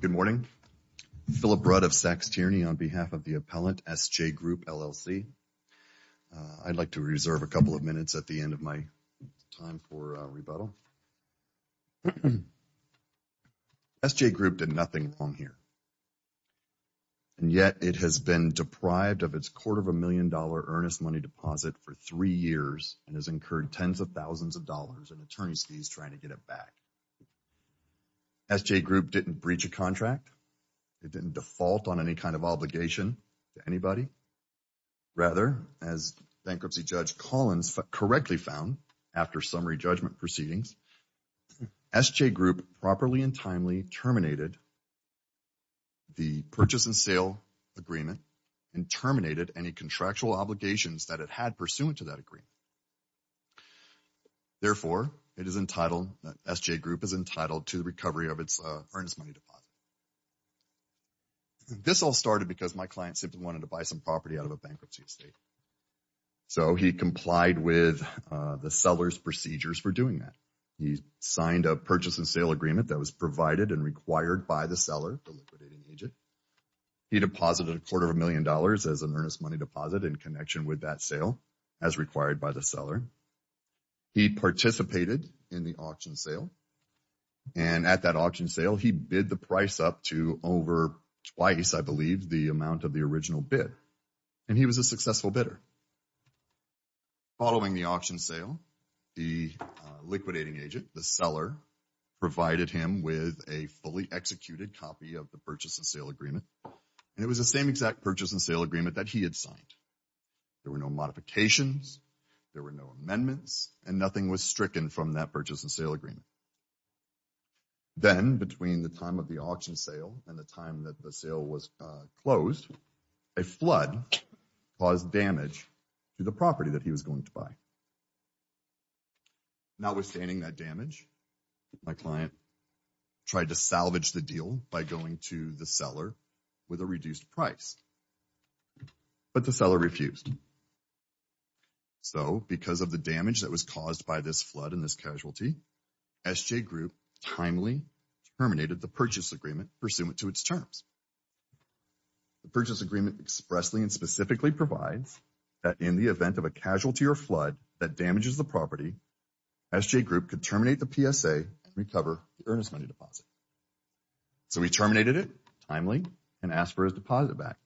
Good morning. Philip Rudd of SACS Tierney on behalf of the appellant SJ Group LLC. I'd like to reserve a couple of minutes at the end of my time for rebuttal. SJ Group did nothing wrong here and yet it has been deprived of its quarter of a million dollar earnest money deposit for three years and has incurred tens of SJ Group didn't breach a contract. It didn't default on any kind of obligation to anybody. Rather, as bankruptcy judge Collins correctly found after summary judgment proceedings, SJ Group properly and timely terminated the purchase and sale agreement and terminated any contractual obligations that it had pursuant to that agreement. Therefore, it is entitled, SJ Group is entitled to the recovery of its earnest money deposit. This all started because my client simply wanted to buy some property out of a bankruptcy estate, so he complied with the seller's procedures for doing that. He signed a purchase and sale agreement that was provided and required by the seller, the liquidating agent. He deposited a quarter of a million dollars as an earnest money deposit in connection with that sale as required by the seller. He participated in the auction sale. He bid the price up to over twice, I believe, the amount of the original bid and he was a successful bidder. Following the auction sale, the liquidating agent, the seller, provided him with a fully executed copy of the purchase and sale agreement and it was the same exact purchase and sale agreement that he had signed. There were no modifications, there were no amendments and nothing was stricken from that purchase and sale agreement. Then, between the time of the auction sale and the time that the sale was closed, a flood caused damage to the property that he was going to buy. Notwithstanding that damage, my client tried to salvage the deal by going to the seller with a flood and this casualty, SJ Group timely terminated the purchase agreement pursuant to its terms. The purchase agreement expressly and specifically provides that in the event of a casualty or flood that damages the property, SJ Group could terminate the PSA and recover the earnest money deposit. So, he terminated it timely and asked for his deposit back,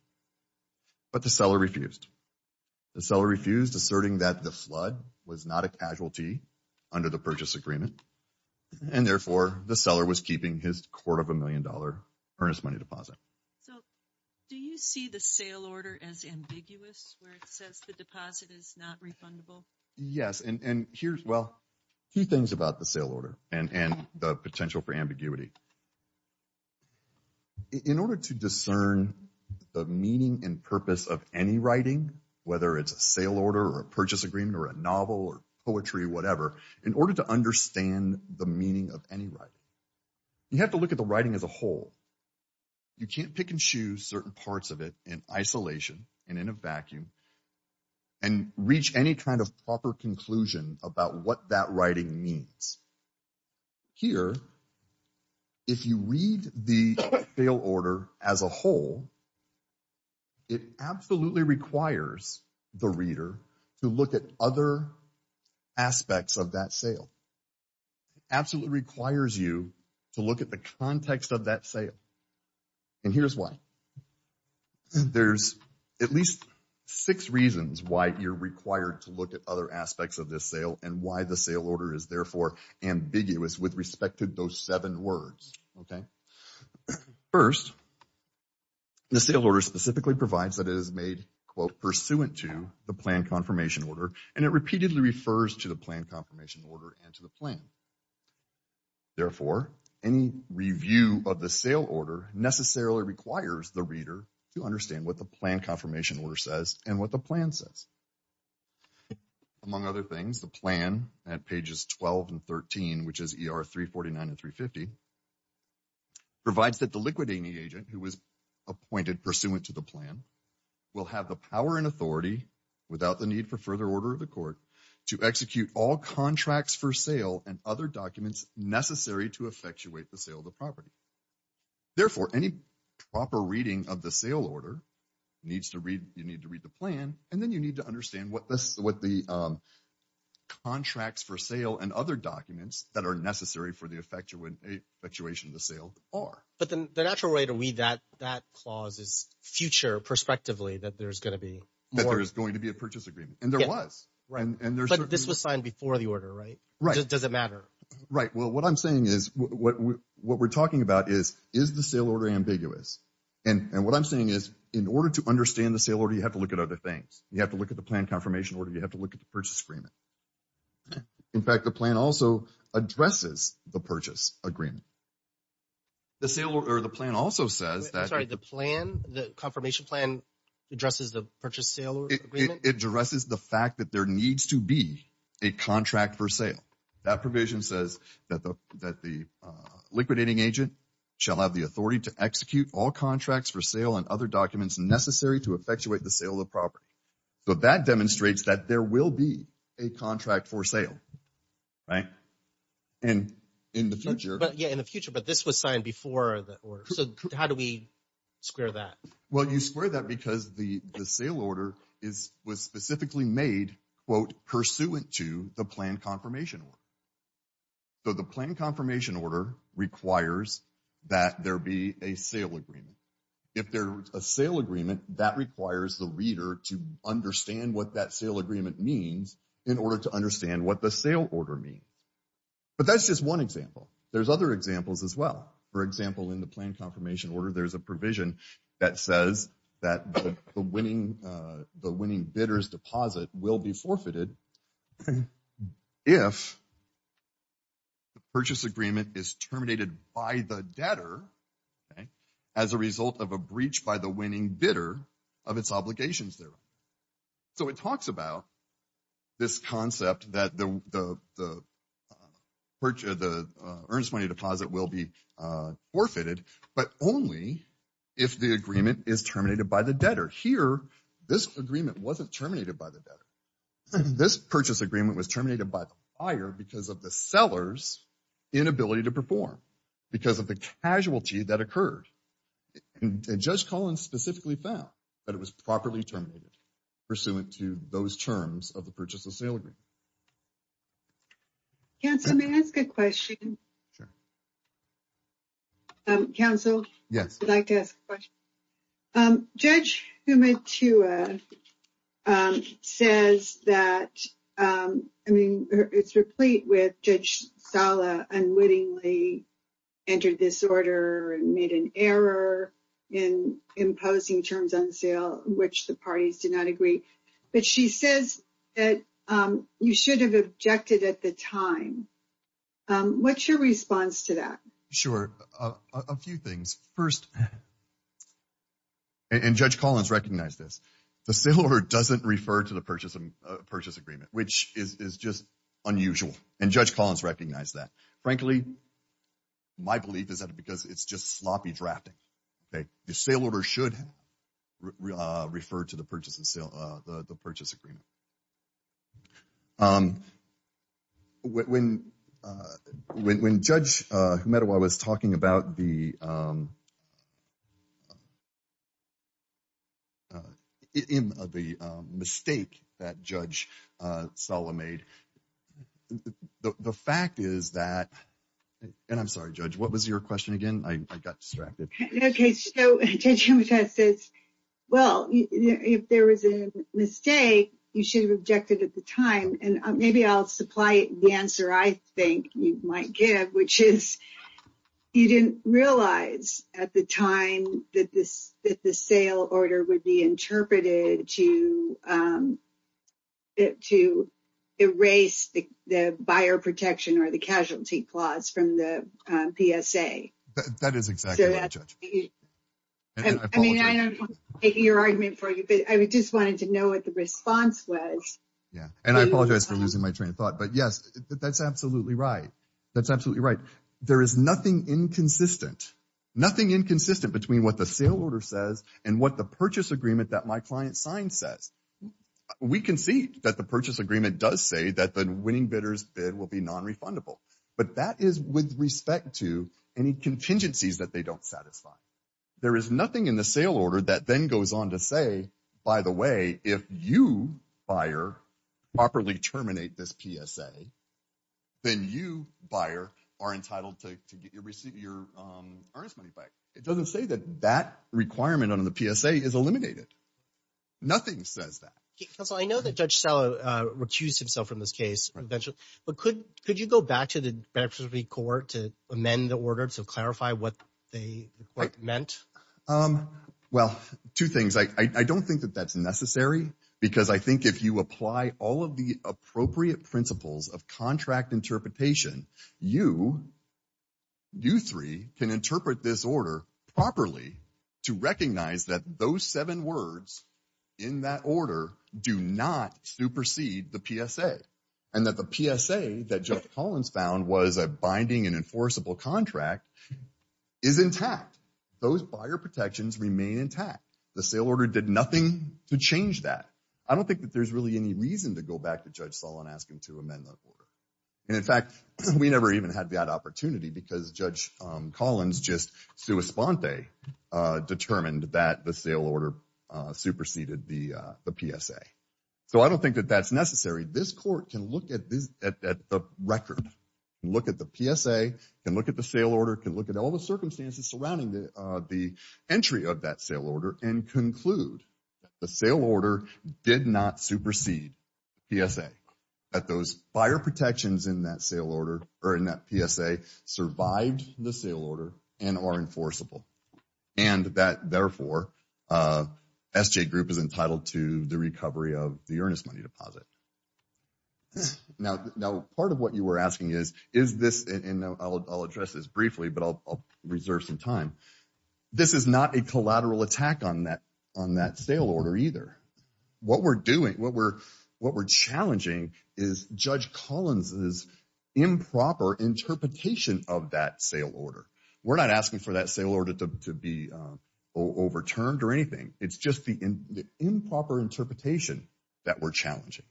but the seller refused. The seller refused, asserting that the flood was not a casualty under the purchase agreement and, therefore, the seller was keeping his quarter of a million dollar earnest money deposit. So, do you see the sale order as ambiguous where it says the deposit is not refundable? Yes, and here's, well, a few things about the sale order and the potential for ambiguity. In order to discern the meaning and purpose of any writing, whether it's a sale order or a purchase agreement or a novel or poetry or whatever, in order to understand the meaning of any writing, you have to look at the writing as a whole. You can't pick and choose certain parts of it in isolation and in a vacuum and reach any kind of proper conclusion about what that writing means. Here, if you read the sale order as a whole, it absolutely requires the reader to look at other aspects of that sale. It absolutely requires you to look at the context of that sale, and here's why. There's at least six reasons why you're required to look at other aspects of this sale and why the sale order is therefore ambiguous with respect to those seven words, okay? First, the sale order specifically provides that it is made, quote, pursuant to the plan confirmation order, and it repeatedly refers to the plan confirmation order and to the plan. Therefore, any review of the sale order necessarily requires the reader to understand what the plan confirmation order says and what the plan says. Among other things, the plan at pages 12 and 13, which is ER 349 and 350, provides that the liquidating agent who was appointed pursuant to the plan will have the power and authority, without the need for further order of the court, to execute all contracts for sale and other documents necessary to effectuate the sale of the property. Therefore, any proper reading of the sale order, you need to read the plan, and then you need to understand what the contracts for sale and other documents that are necessary for the effectuation of the sale are. But then the natural way to read that clause is future, prospectively, that there's going to be more. That there's going to be a purchase agreement, and there was. But this was signed before the order, right? Right. Does it matter? Right. Well, what I'm saying is, what we're talking about is, is the sale order ambiguous, and what I'm saying is, in order to understand the sale order, you have to look at other things. You have to look at the plan confirmation order. You have to look at the purchase agreement. In fact, the plan also addresses the purchase agreement. The sale order, or the plan also says that. I'm sorry, the plan, the confirmation plan addresses the purchase sale agreement? It addresses the fact that there needs to be a contract for sale. That provision says that the liquidating agent shall have the authority to execute all contracts for sale and other documents necessary to effectuate the sale of the property. But that demonstrates that there will be a contract for sale, right? And in the future. But yeah, in the future, but this was signed before the order. So how do we square that? Well, you square that because the sale order was specifically made, quote, pursuant to the plan confirmation order. So the plan confirmation order requires that there be a sale agreement. If there's a sale agreement, that requires the reader to understand what that sale agreement means in order to understand what the sale order means. But that's just one example. There's other examples as well. For example, in the plan confirmation order, there's a provision that says that the winning bidder's deposit will be forfeited if the purchase agreement is terminated by the debtor as a result of a breach by the winning bidder of its obligations there. So it talks about this concept that the earnest money deposit will be forfeited, but only if the agreement is terminated by the debtor. Here, this agreement wasn't terminated by the debtor. This purchase agreement was terminated by the buyer because of the seller's inability to perform, because of the casualty that occurred. And Judge Collins specifically found that it was properly terminated pursuant to those terms of the purchase of sale agreement. Counsel, may I ask a question? Sure. Counsel? Yes. I'd like to ask a question. Judge Humatua says that, I mean, it's replete with Judge Sala unwittingly entered this order and made an error in imposing terms on sale, which the parties did not agree. But she says that you should have objected at the time. What's your response to that? Sure. A few things. First, and Judge Collins recognized this, the sale order doesn't refer to the purchase agreement, which is just unusual. And Judge Collins recognized that. Frankly, my belief is that because it's just sloppy drafting. The sale order should refer to the purchase agreement. When Judge Humatua was talking about the mistake that Judge Sala made, the fact is that, and I'm sorry, Judge, what was your question again? I got distracted. Okay, so Judge Humatua says, well, if there was a mistake, you should have objected at the time. And maybe I'll supply the answer I think you might give, which is you didn't realize at the time that the sale order would be interpreted to erase the buyer protection or the casualty clause from the PSA. That is exactly right, Judge. I mean, I don't want to make your argument for you, but I just wanted to know what the response was. Yeah, and I apologize for losing my train of thought. But yes, that's absolutely right. That's absolutely right. There is nothing inconsistent. Nothing inconsistent between what the sale order says and what the purchase agreement that my client signed says. We can see that the purchase agreement does say that the winning bidder's bid will be nonrefundable. But that is with respect to any contingencies that they don't satisfy. There is nothing in the sale order that then goes on to say, by the way, if you, buyer, properly terminate this PSA, then you, buyer, are entitled to get your earnest money back. It doesn't say that that requirement under the PSA is eliminated. Nothing says that. Counsel, I know that Judge Sala recused himself from this case, but could you go back to the beneficiary court to amend the order to clarify what they meant? Well, two things. I don't think that that's necessary because I think if you apply all of the appropriate principles of contract interpretation, you, you three, can interpret this order properly to recognize that those seven words in that order do not supersede the PSA. And that the PSA that Judge Collins found was a binding and enforceable contract is intact. Those buyer protections remain intact. The sale order did nothing to change that. I don't think that there's really any reason to go back to Judge Sala and ask him to amend that order. And, in fact, we never even had that opportunity because Judge Collins just sua sponte determined that the sale order superseded the PSA. So I don't think that that's necessary. This court can look at the record, look at the PSA, can look at the sale order, can look at all the circumstances surrounding the entry of that sale order and conclude that the sale order did not supersede the PSA. That those buyer protections in that sale order, or in that PSA, survived the sale order and are enforceable. And that, therefore, SJ Group is entitled to the recovery of the earnest money deposit. Now, part of what you were asking is, is this, and I'll address this briefly, but I'll reserve some time. This is not a collateral attack on that sale order either. What we're doing, what we're challenging is Judge Collins's improper interpretation of that sale order. We're not asking for that sale order to be overturned or anything. It's just the improper interpretation that we're challenging.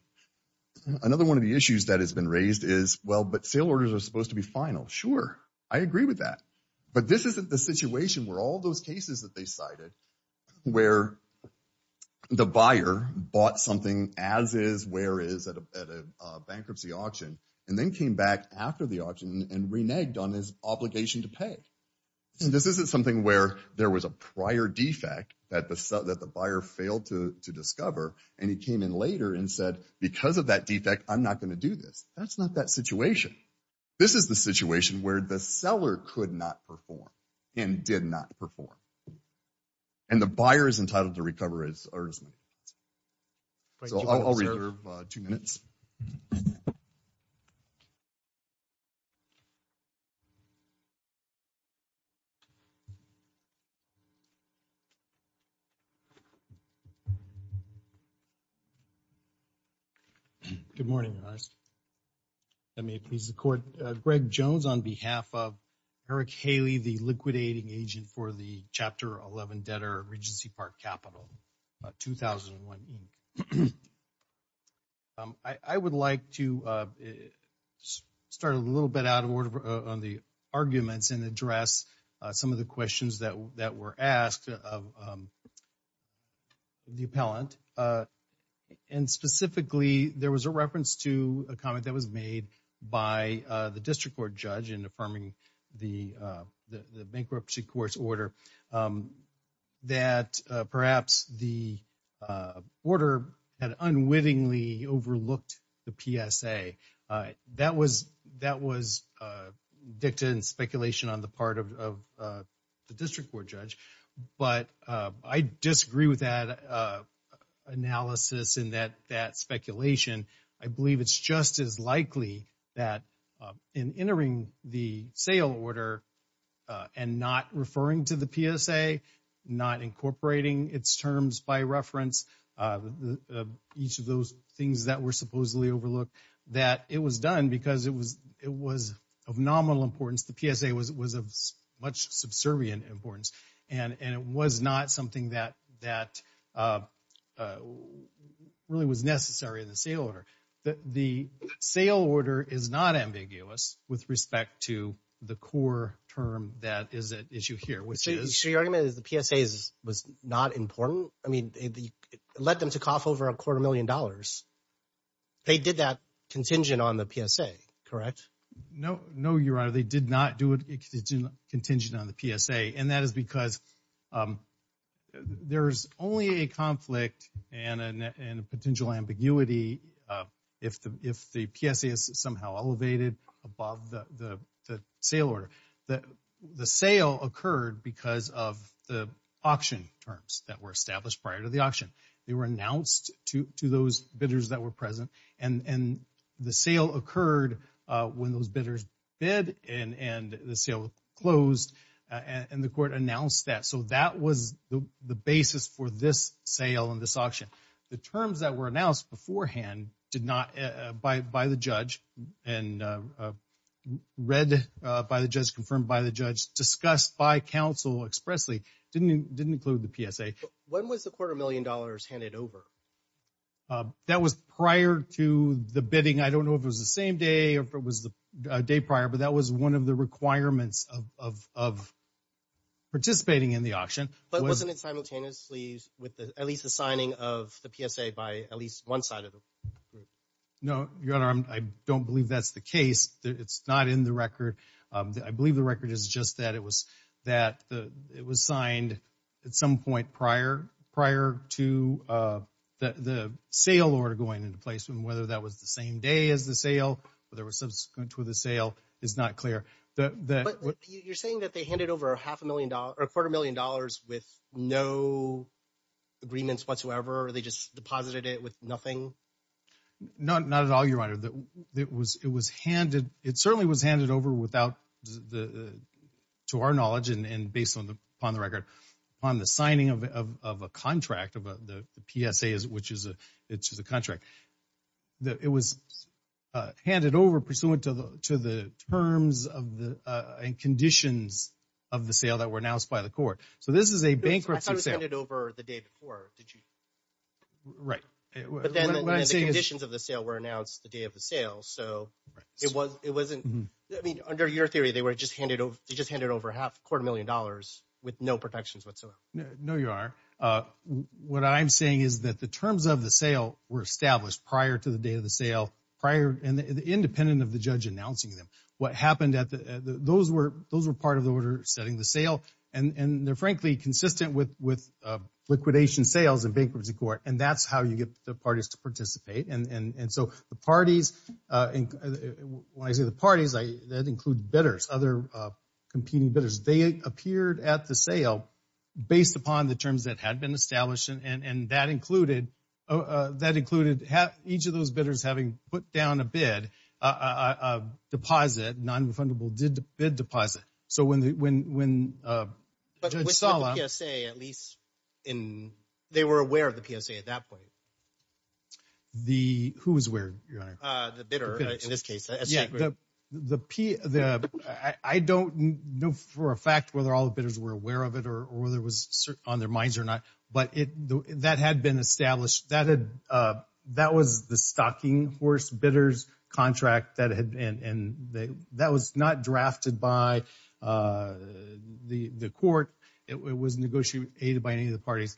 Another one of the issues that has been raised is, well, but sale orders are supposed to be final. Sure, I agree with that. But this isn't the situation where all those cases that they cited, where the buyer bought something as is, where is, at a bankruptcy auction, and then came back after the auction and reneged on his obligation to pay. And this isn't something where there was a prior defect that the buyer failed to discover, and he came in later and said, because of that defect, I'm not going to do this. That's not that situation. This is the situation where the seller could not perform and did not perform. And the buyer is entitled to recover his or his money. So I'll reserve two minutes. Good morning, Ernest. If that may please the court, Greg Jones on behalf of Eric Haley, the liquidating agent for the Chapter 11 debtor, Regency Park Capital, 2001 Inc. I would like to start a little bit out of order on the arguments and address some of the questions that were asked of the appellant. And specifically, there was a reference to a comment that was made by the district court judge in affirming the bankruptcy court's order that perhaps the order had unwittingly overlooked the PSA. That was dictated in speculation on the part of the district court judge. But I disagree with that analysis and that speculation. I believe it's just as likely that in entering the sale order and not referring to the PSA, not incorporating its terms by reference, each of those things that were supposedly overlooked, that it was done because it was of nominal importance. The PSA was of much subservient importance. And it was not something that really was necessary in the sale order. The sale order is not ambiguous with respect to the core term that is at issue here, which is... So your argument is the PSA was not important? I mean, it led them to cough over a quarter million dollars. They did that contingent on the PSA, correct? No, no, Your Honor. They did not do it contingent on the PSA. And that is because there's only a conflict and a potential ambiguity if the PSA is somehow elevated above the sale order. The sale occurred because of the auction terms that were established prior to the auction. They were announced to those bidders that were present. And the sale occurred when those bidders bid and the sale closed. And the court announced that. So that was the basis for this sale and this auction. The terms that were announced beforehand did not, by the judge, and read by the judge, confirmed by the judge, discussed by counsel expressly, didn't include the PSA. When was the quarter million dollars handed over? That was prior to the bidding. I don't know if it was the same day or if it was the day prior, but that was one of the requirements of participating in the auction. But wasn't it simultaneously with at least the signing of the PSA by at least one side of the group? No, Your Honor. I don't believe that's the case. It's not in the record. I believe the record is just that it was signed at some point prior to the sale order going into placement, whether that was the same day as the sale, whether it was subsequent to the sale is not clear. You're saying that they handed over a quarter million dollars with no agreements whatsoever, or they just deposited it with nothing? Not at all, Your Honor. It certainly was handed over to our knowledge, and based upon the record, on the signing of a contract, the PSA, which is a contract. That it was handed over pursuant to the terms and conditions of the sale that were announced by the court. So this is a bankruptcy sale. I thought it was handed over the day before, did you? Right. But then the conditions of the sale were announced the day of the sale. So it wasn't, I mean, under your theory, they just handed over a quarter million dollars with no protections whatsoever. No, Your Honor. What I'm saying is that the terms of the sale were established prior to the day of the sale, prior and independent of the judge announcing them. What happened at the, those were part of the order setting the sale, and they're frankly consistent with liquidation sales in bankruptcy court, and that's how you get the parties to participate. And so the parties, when I say the parties, that includes bidders, other competing bidders. They appeared at the sale based upon the terms that had been established, and that included each of those bidders having put down a bid, a deposit, non-refundable bid deposit. So when Judge Sala— But with the PSA, at least, they were aware of the PSA at that point. The, who was aware, Your Honor? The bidder, in this case. Yeah, the, I don't know for a fact whether all the bidders were aware of it or whether it was on their minds or not, but it, that had been established. That had, that was the stocking horse bidder's contract that had been, and that was not drafted by the court. It was negotiated by any of the parties.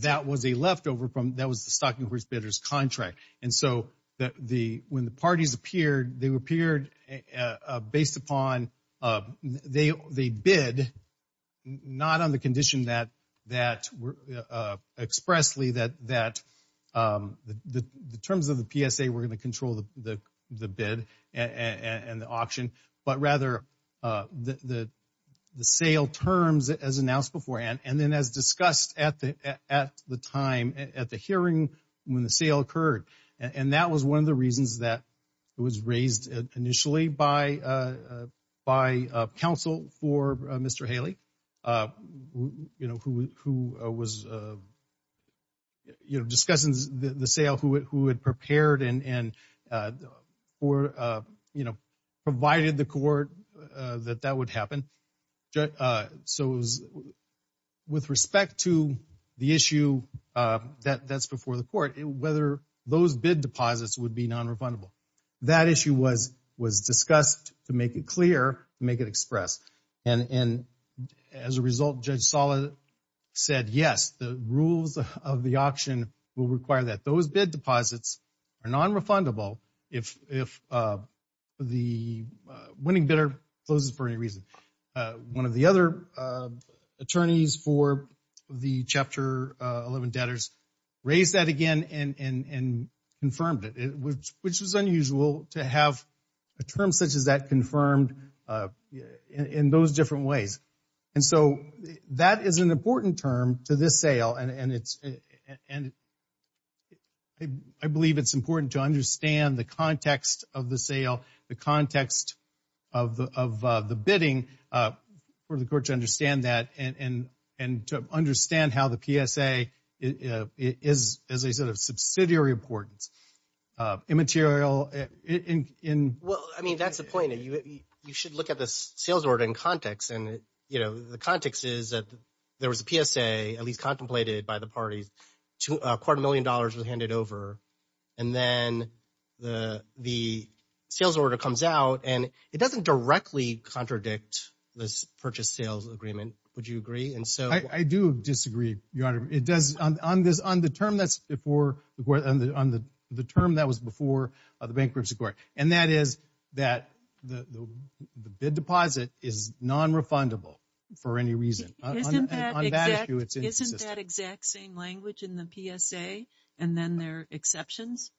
That was a leftover from, that was the stocking horse bidder's contract. And so the, when the parties appeared, they appeared based upon, they bid not on the condition that expressly that the terms of the PSA were going to control the bid and the auction, but rather the sale terms as announced beforehand. And then as discussed at the time, at the hearing when the sale occurred, and that was one of the reasons that it was raised initially by counsel for Mr. Haley, you know, who was, you know, discussing the sale, who had prepared and, and for, you know, provided the court that that would happen. So it was with respect to the issue that's before the court, whether those bid deposits would be non-refundable. That issue was, was discussed to make it clear, to make it express. And, and as a result, Judge Sala said, yes, the rules of the auction will require that those bid deposits are non-refundable if, if the winning bidder closes for any reason. One of the other attorneys for the Chapter 11 debtors raised that again and, and, and confirmed it, which, which was unusual to have a term such as that confirmed in those different ways. And so that is an important term to this sale. And it's, and I believe it's important to understand the context of the sale, the context of the, of the bidding for the court to understand that and, and, and to understand how the PSA is, is a sort of subsidiary importance. Immaterial in, in, in. Well, I mean, that's the point that you, you should look at the sales order in context. And, you know, the context is that there was a PSA at least contemplated by the parties to a quarter million dollars was handed over. And then the, the sales order comes out and it doesn't directly contradict this purchase sales agreement. Would you agree? And so. I do disagree, Your Honor. It does, on this, on the term that's before the court, on the, on the, the term that was before the bankruptcy court. And that is that the, the bid deposit is non-refundable for any reason. Isn't that exact same language in the PSA? And then there are exceptions?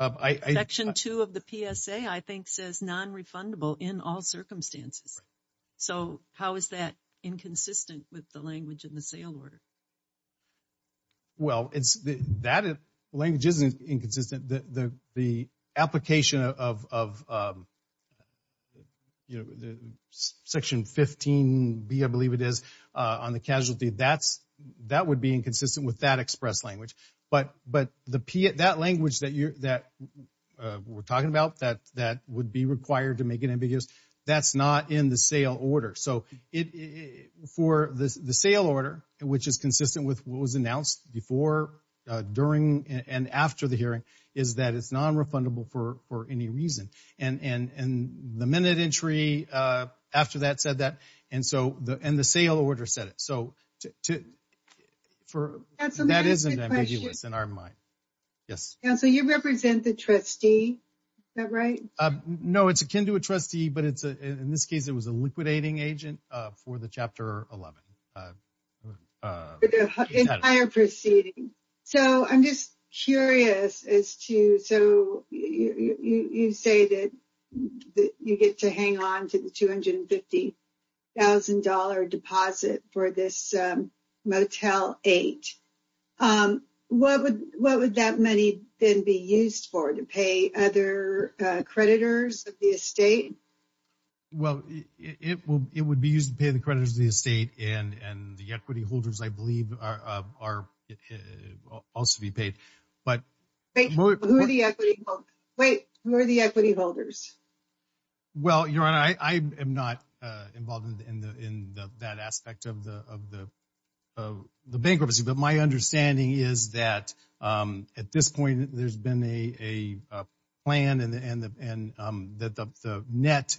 Section 2 of the PSA, I think, says non-refundable in all circumstances. So, how is that inconsistent with the language in the sale order? Well, it's, that language isn't inconsistent. The, the, the application of, of, of, you know, the Section 15B, I believe it is, on the casualty, that's, that would be inconsistent with that express language. But, but the P, that language that you're, that we're talking about, that, that would be required to make it ambiguous, that's not in the sale order. So, it, for the, the sale order, which is consistent with what was announced before, during, and after the hearing, is that it's non-refundable for, for any reason. And, and, and the minute entry after that said that. And so, the, and the sale order said it. So, to, for. That isn't ambiguous in our mind. Yes. Council, you represent the trustee, is that right? No, it's akin to a trustee, but it's a, in this case, it was a liquidating agent for the Chapter 11. Entire proceeding. So, I'm just curious as to, so, you, you say that you get to hang on to the $250,000 deposit for this Motel 8. What would, what would that money then be used for? To pay other creditors of the estate? Well, it will, it would be used to pay the creditors of the estate and, and the equity holders, I believe, are, are also be paid. But, wait, who are the equity holders? Well, your honor, I, I am not involved in the, in the, that aspect of the, of the, of the bankruptcy, but my understanding is that at this point, there's been a, a plan and the, and the, and that the, the net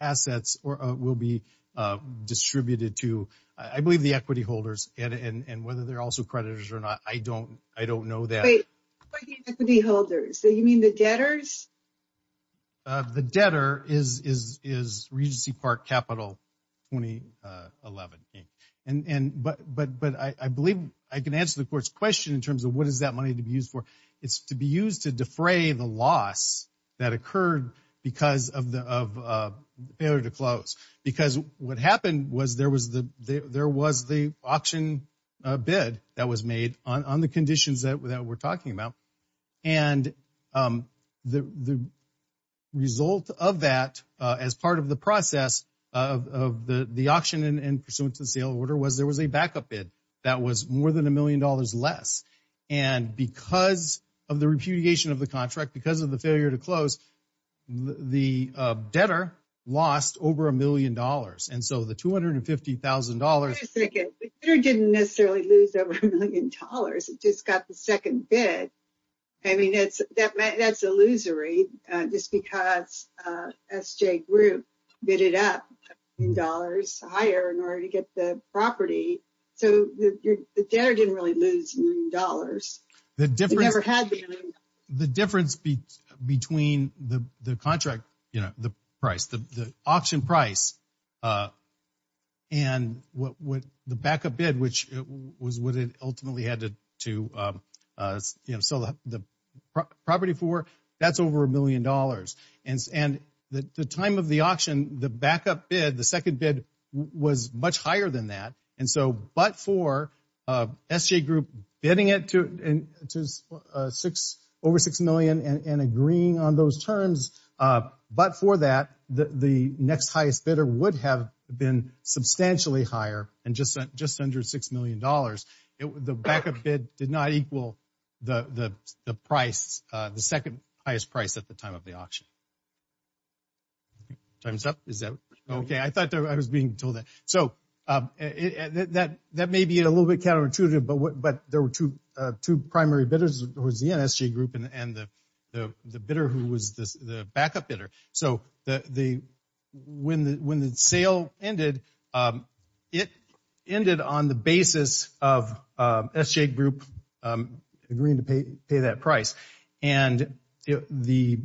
assets will be distributed to, I believe the equity holders and, and, and whether they're also creditors or not, I don't, I don't know that. Wait, who are the equity holders? So, you mean the debtors? The debtor is, is, is Regency Park Capital 2011, and, and, but, but I, I believe I can answer the court's question in terms of what is that money to be used for? It's to be used to defray the loss that occurred because of the, of the failure to close. Because what happened was there was the, there was the auction bid that was made on, on the the result of that as part of the process of, of the, the auction and pursuant to the sale order was there was a backup bid that was more than a million dollars less. And because of the repudiation of the contract, because of the failure to close, the debtor lost over a million dollars. And so the $250,000. Wait a second, the debtor didn't necessarily lose over a million dollars. It just got the second bid. I mean, it's, that, that's illusory. Just because SJ Group bidded up in dollars higher in order to get the property. So, the debtor didn't really lose dollars. The difference, the difference between the, the contract, you know, the price, the, the auction price and what, what the backup bid, which was what it ultimately had to, to, you know, sell the property for, that's over a million dollars. And, and the time of the auction, the backup bid, the second bid was much higher than that. And so, but for SJ Group bidding it to, to six, over six million and agreeing on those terms, but for that, the, the next highest bidder would have been substantially higher and just, just under six million dollars. It, the backup bid did not equal the, the, the price, the second highest price at the time of the auction. Time's up, is that okay? I thought I was being told that. So, that, that may be a little bit counterintuitive, but what, but there were two, two primary bidders, was the NSJ Group and the, the bidder who was the, the backup bidder. So, the, the, when the, when the sale ended, it ended on the basis of SJ Group agreeing to pay, pay that price. And the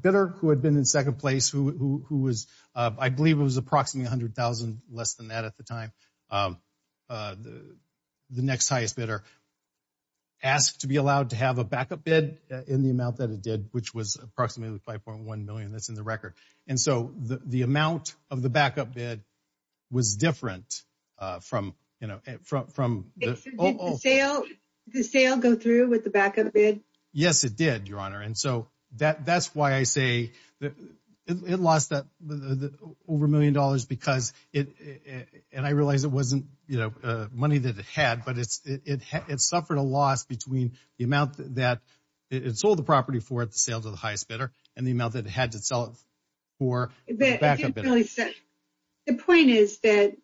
bidder who had been in second place, who, who, who was, I believe it was approximately 100,000, less than that at the time, the next highest bidder. Asked to be allowed to have a backup bid in the amount that it did, which was approximately 5.1 million, that's in the record. And so, the, the amount of the backup bid was different from, you know, from, from. Did the sale, did the sale go through with the backup bid? Yes, it did, Your Honor. And so, that, that's why I say that it lost that, over a million dollars because it, and I realize it wasn't, you know, money that it had, but it's, it, it, it suffered a loss between the amount that it sold the property for at the sale to the highest bidder and the amount that it had to sell it for the backup bidder. But I didn't really say, the point is that,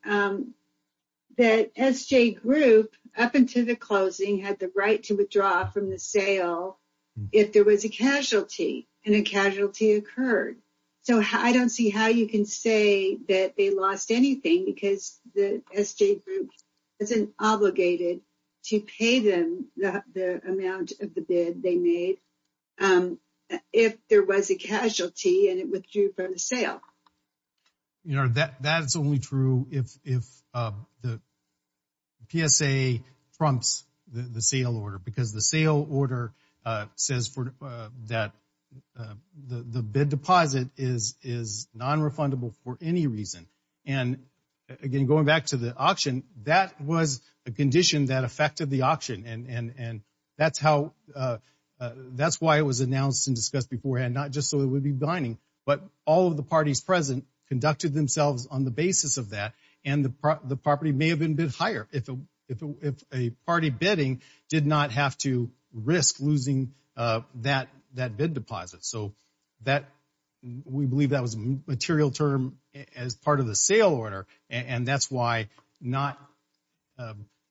that SJ Group, up until the closing, had the right to withdraw from the sale if there was a casualty and a casualty occurred. So, I don't see how you can say that they lost anything because the SJ Group wasn't obligated to pay them the, the amount of the bid they made if there was a casualty and it withdrew from the sale. Your Honor, that, that's only true if, if the PSA trumps the, the sale order because the sale order says for, that the, the bid deposit is, is non-refundable for any reason. And again, going back to the auction, that was a condition that affected the auction and, and, and that's how, that's why it was announced and discussed beforehand, not just so it would be binding, but all of the parties present conducted themselves on the basis of that and the property may have been bid higher. If a, if a, if a party bidding did not have to risk losing that, that bid deposit. So, that, we believe that was a material term as part of the sale order and, and that's why not,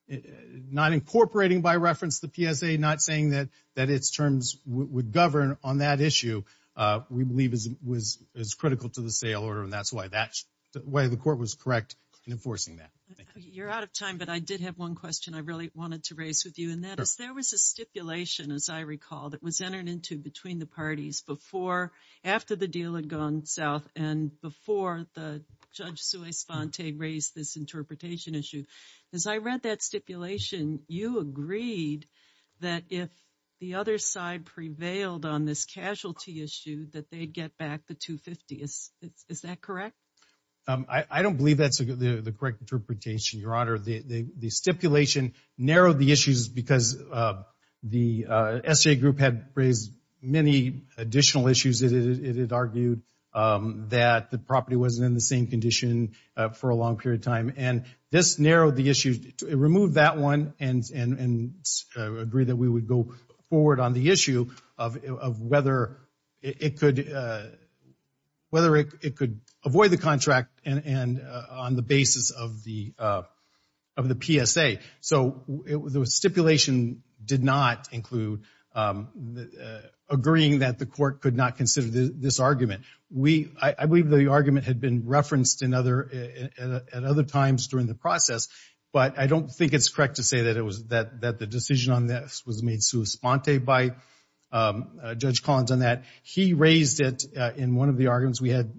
not incorporating by reference the PSA, not saying that, that its terms would govern on that issue, we believe is, was, is critical to the sale order and that's why that, why the court was correct in enforcing that. You're out of time, but I did have one question I really wanted to raise with you and that is, there was a stipulation, as I recall, that was entered into between the parties before, after the deal had gone south and before the Judge Suez-Fonte raised this interpretation issue. As I read that stipulation, you agreed that if the other side prevailed on this casualty issue, that they'd get back the 250. Is that correct? I, I don't believe that's the correct interpretation, Your Honor. The, the stipulation narrowed the issues because the SGA group had raised many additional issues that it had argued that the property wasn't in the same condition for a long period of time and this narrowed the issues, removed that one and, and, and agreed that we would go forward on the issue of, of whether it could, whether it could avoid the contract and, and on the basis of the, of the PSA. So, the stipulation did not include agreeing that the court could not consider this argument. We, I believe the argument had been referenced in other, at other times during the process, but I don't think it's correct to say that it was, that, that the decision on this was made Suez-Fonte by Judge Collins on that. He raised it in one of the arguments. We had,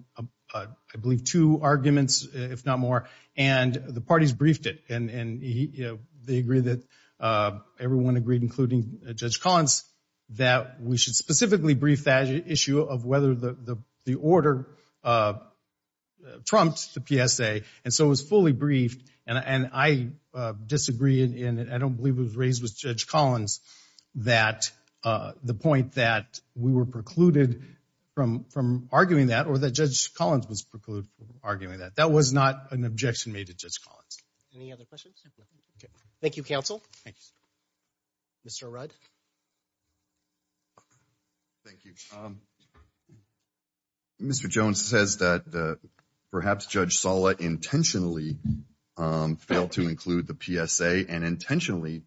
I believe, two arguments, if not more, and the parties briefed it and, and, you know, they agreed that everyone agreed, including Judge Collins, that we should specifically brief that issue of whether the, the order trumped the PSA. And so, it was fully briefed and, and I disagree in, I don't believe it was raised with Judge Collins that the point that we were precluded from, from arguing that or that Judge Collins was precluded from arguing that. That was not an objection made to Judge Collins. Any other questions? Thank you, counsel. Mr. Rudd. Thank you. Um, Mr. Jones says that, uh, perhaps Judge Sala intentionally, um, failed to include the PSA and intentionally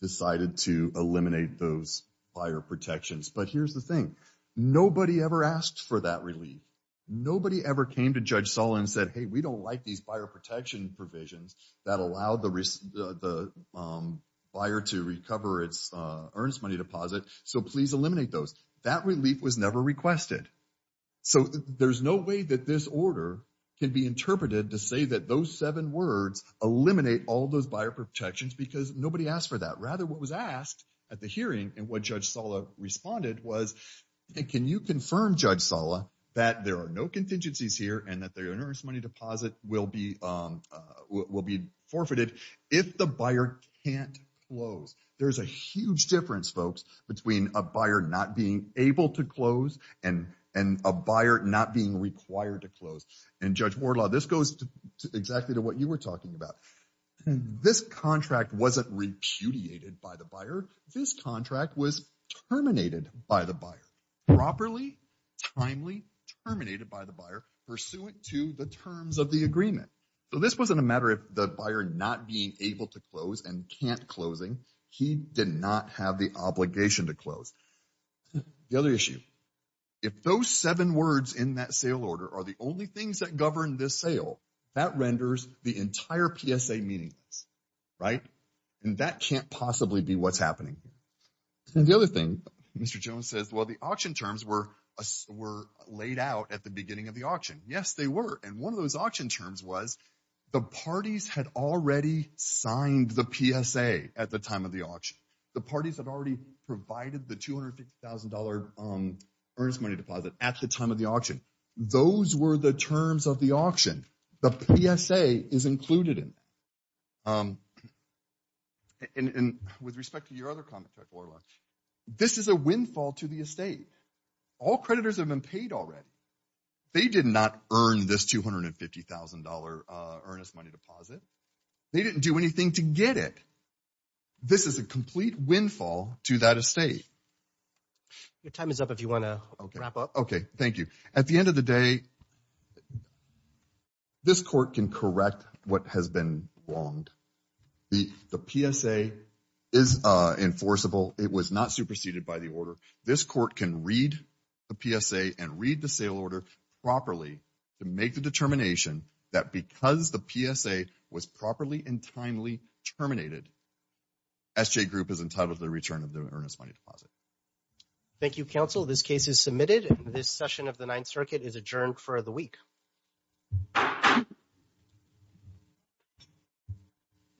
decided to eliminate those buyer protections. But here's the thing. Nobody ever asked for that relief. Nobody ever came to Judge Sala and said, hey, we don't like these buyer protection provisions that allow the, the, um, buyer to recover its, uh, earnest money deposit. So, please eliminate those. That relief was never requested. So, there's no way that this order can be interpreted to say that those seven words eliminate all those buyer protections because nobody asked for that. Rather, what was asked at the hearing and what Judge Sala responded was, hey, can you confirm, Judge Sala, that there are no contingencies here and that the earnest money deposit will be, um, uh, will be forfeited if the buyer can't close. There's a huge difference, folks, between a buyer not being able to close and, and a buyer not being required to close. And Judge Morla, this goes to exactly to what you were talking about. This contract wasn't repudiated by the buyer. This contract was terminated by the buyer. Properly, timely, terminated by the buyer pursuant to the terms of the agreement. So, this wasn't a matter of the buyer not being able to close and can't closing. He did not have the obligation to close. The other issue, if those seven words in that sale order are the only things that govern this sale, that renders the entire PSA meaningless, right? And that can't possibly be what's happening. And the other thing, Mr. Jones says, well, the auction terms were, were laid out at the beginning of the auction. Yes, they were. And one of those auction terms was the parties had already signed the PSA at the time of the auction. The parties had already provided the $250,000 earnest money deposit at the time of the auction. Those were the terms of the auction. The PSA is included in it. And with respect to your other comment, Judge Morla, this is a windfall to the estate. All creditors have been paid already. They did not earn this $250,000 earnest money deposit. They didn't do anything to get it. This is a complete windfall to that estate. Your time is up if you want to wrap up. Okay. Thank you. At the end of the day, this court can correct what has been wronged. The PSA is enforceable. It was not superseded by the order. This court can read the PSA and read the sale order properly to make the determination that because the PSA was properly and timely terminated, SJ Group is entitled to the return of the earnest money deposit. Thank you, counsel. This case is submitted. This session of the Ninth Circuit is adjourned for the week.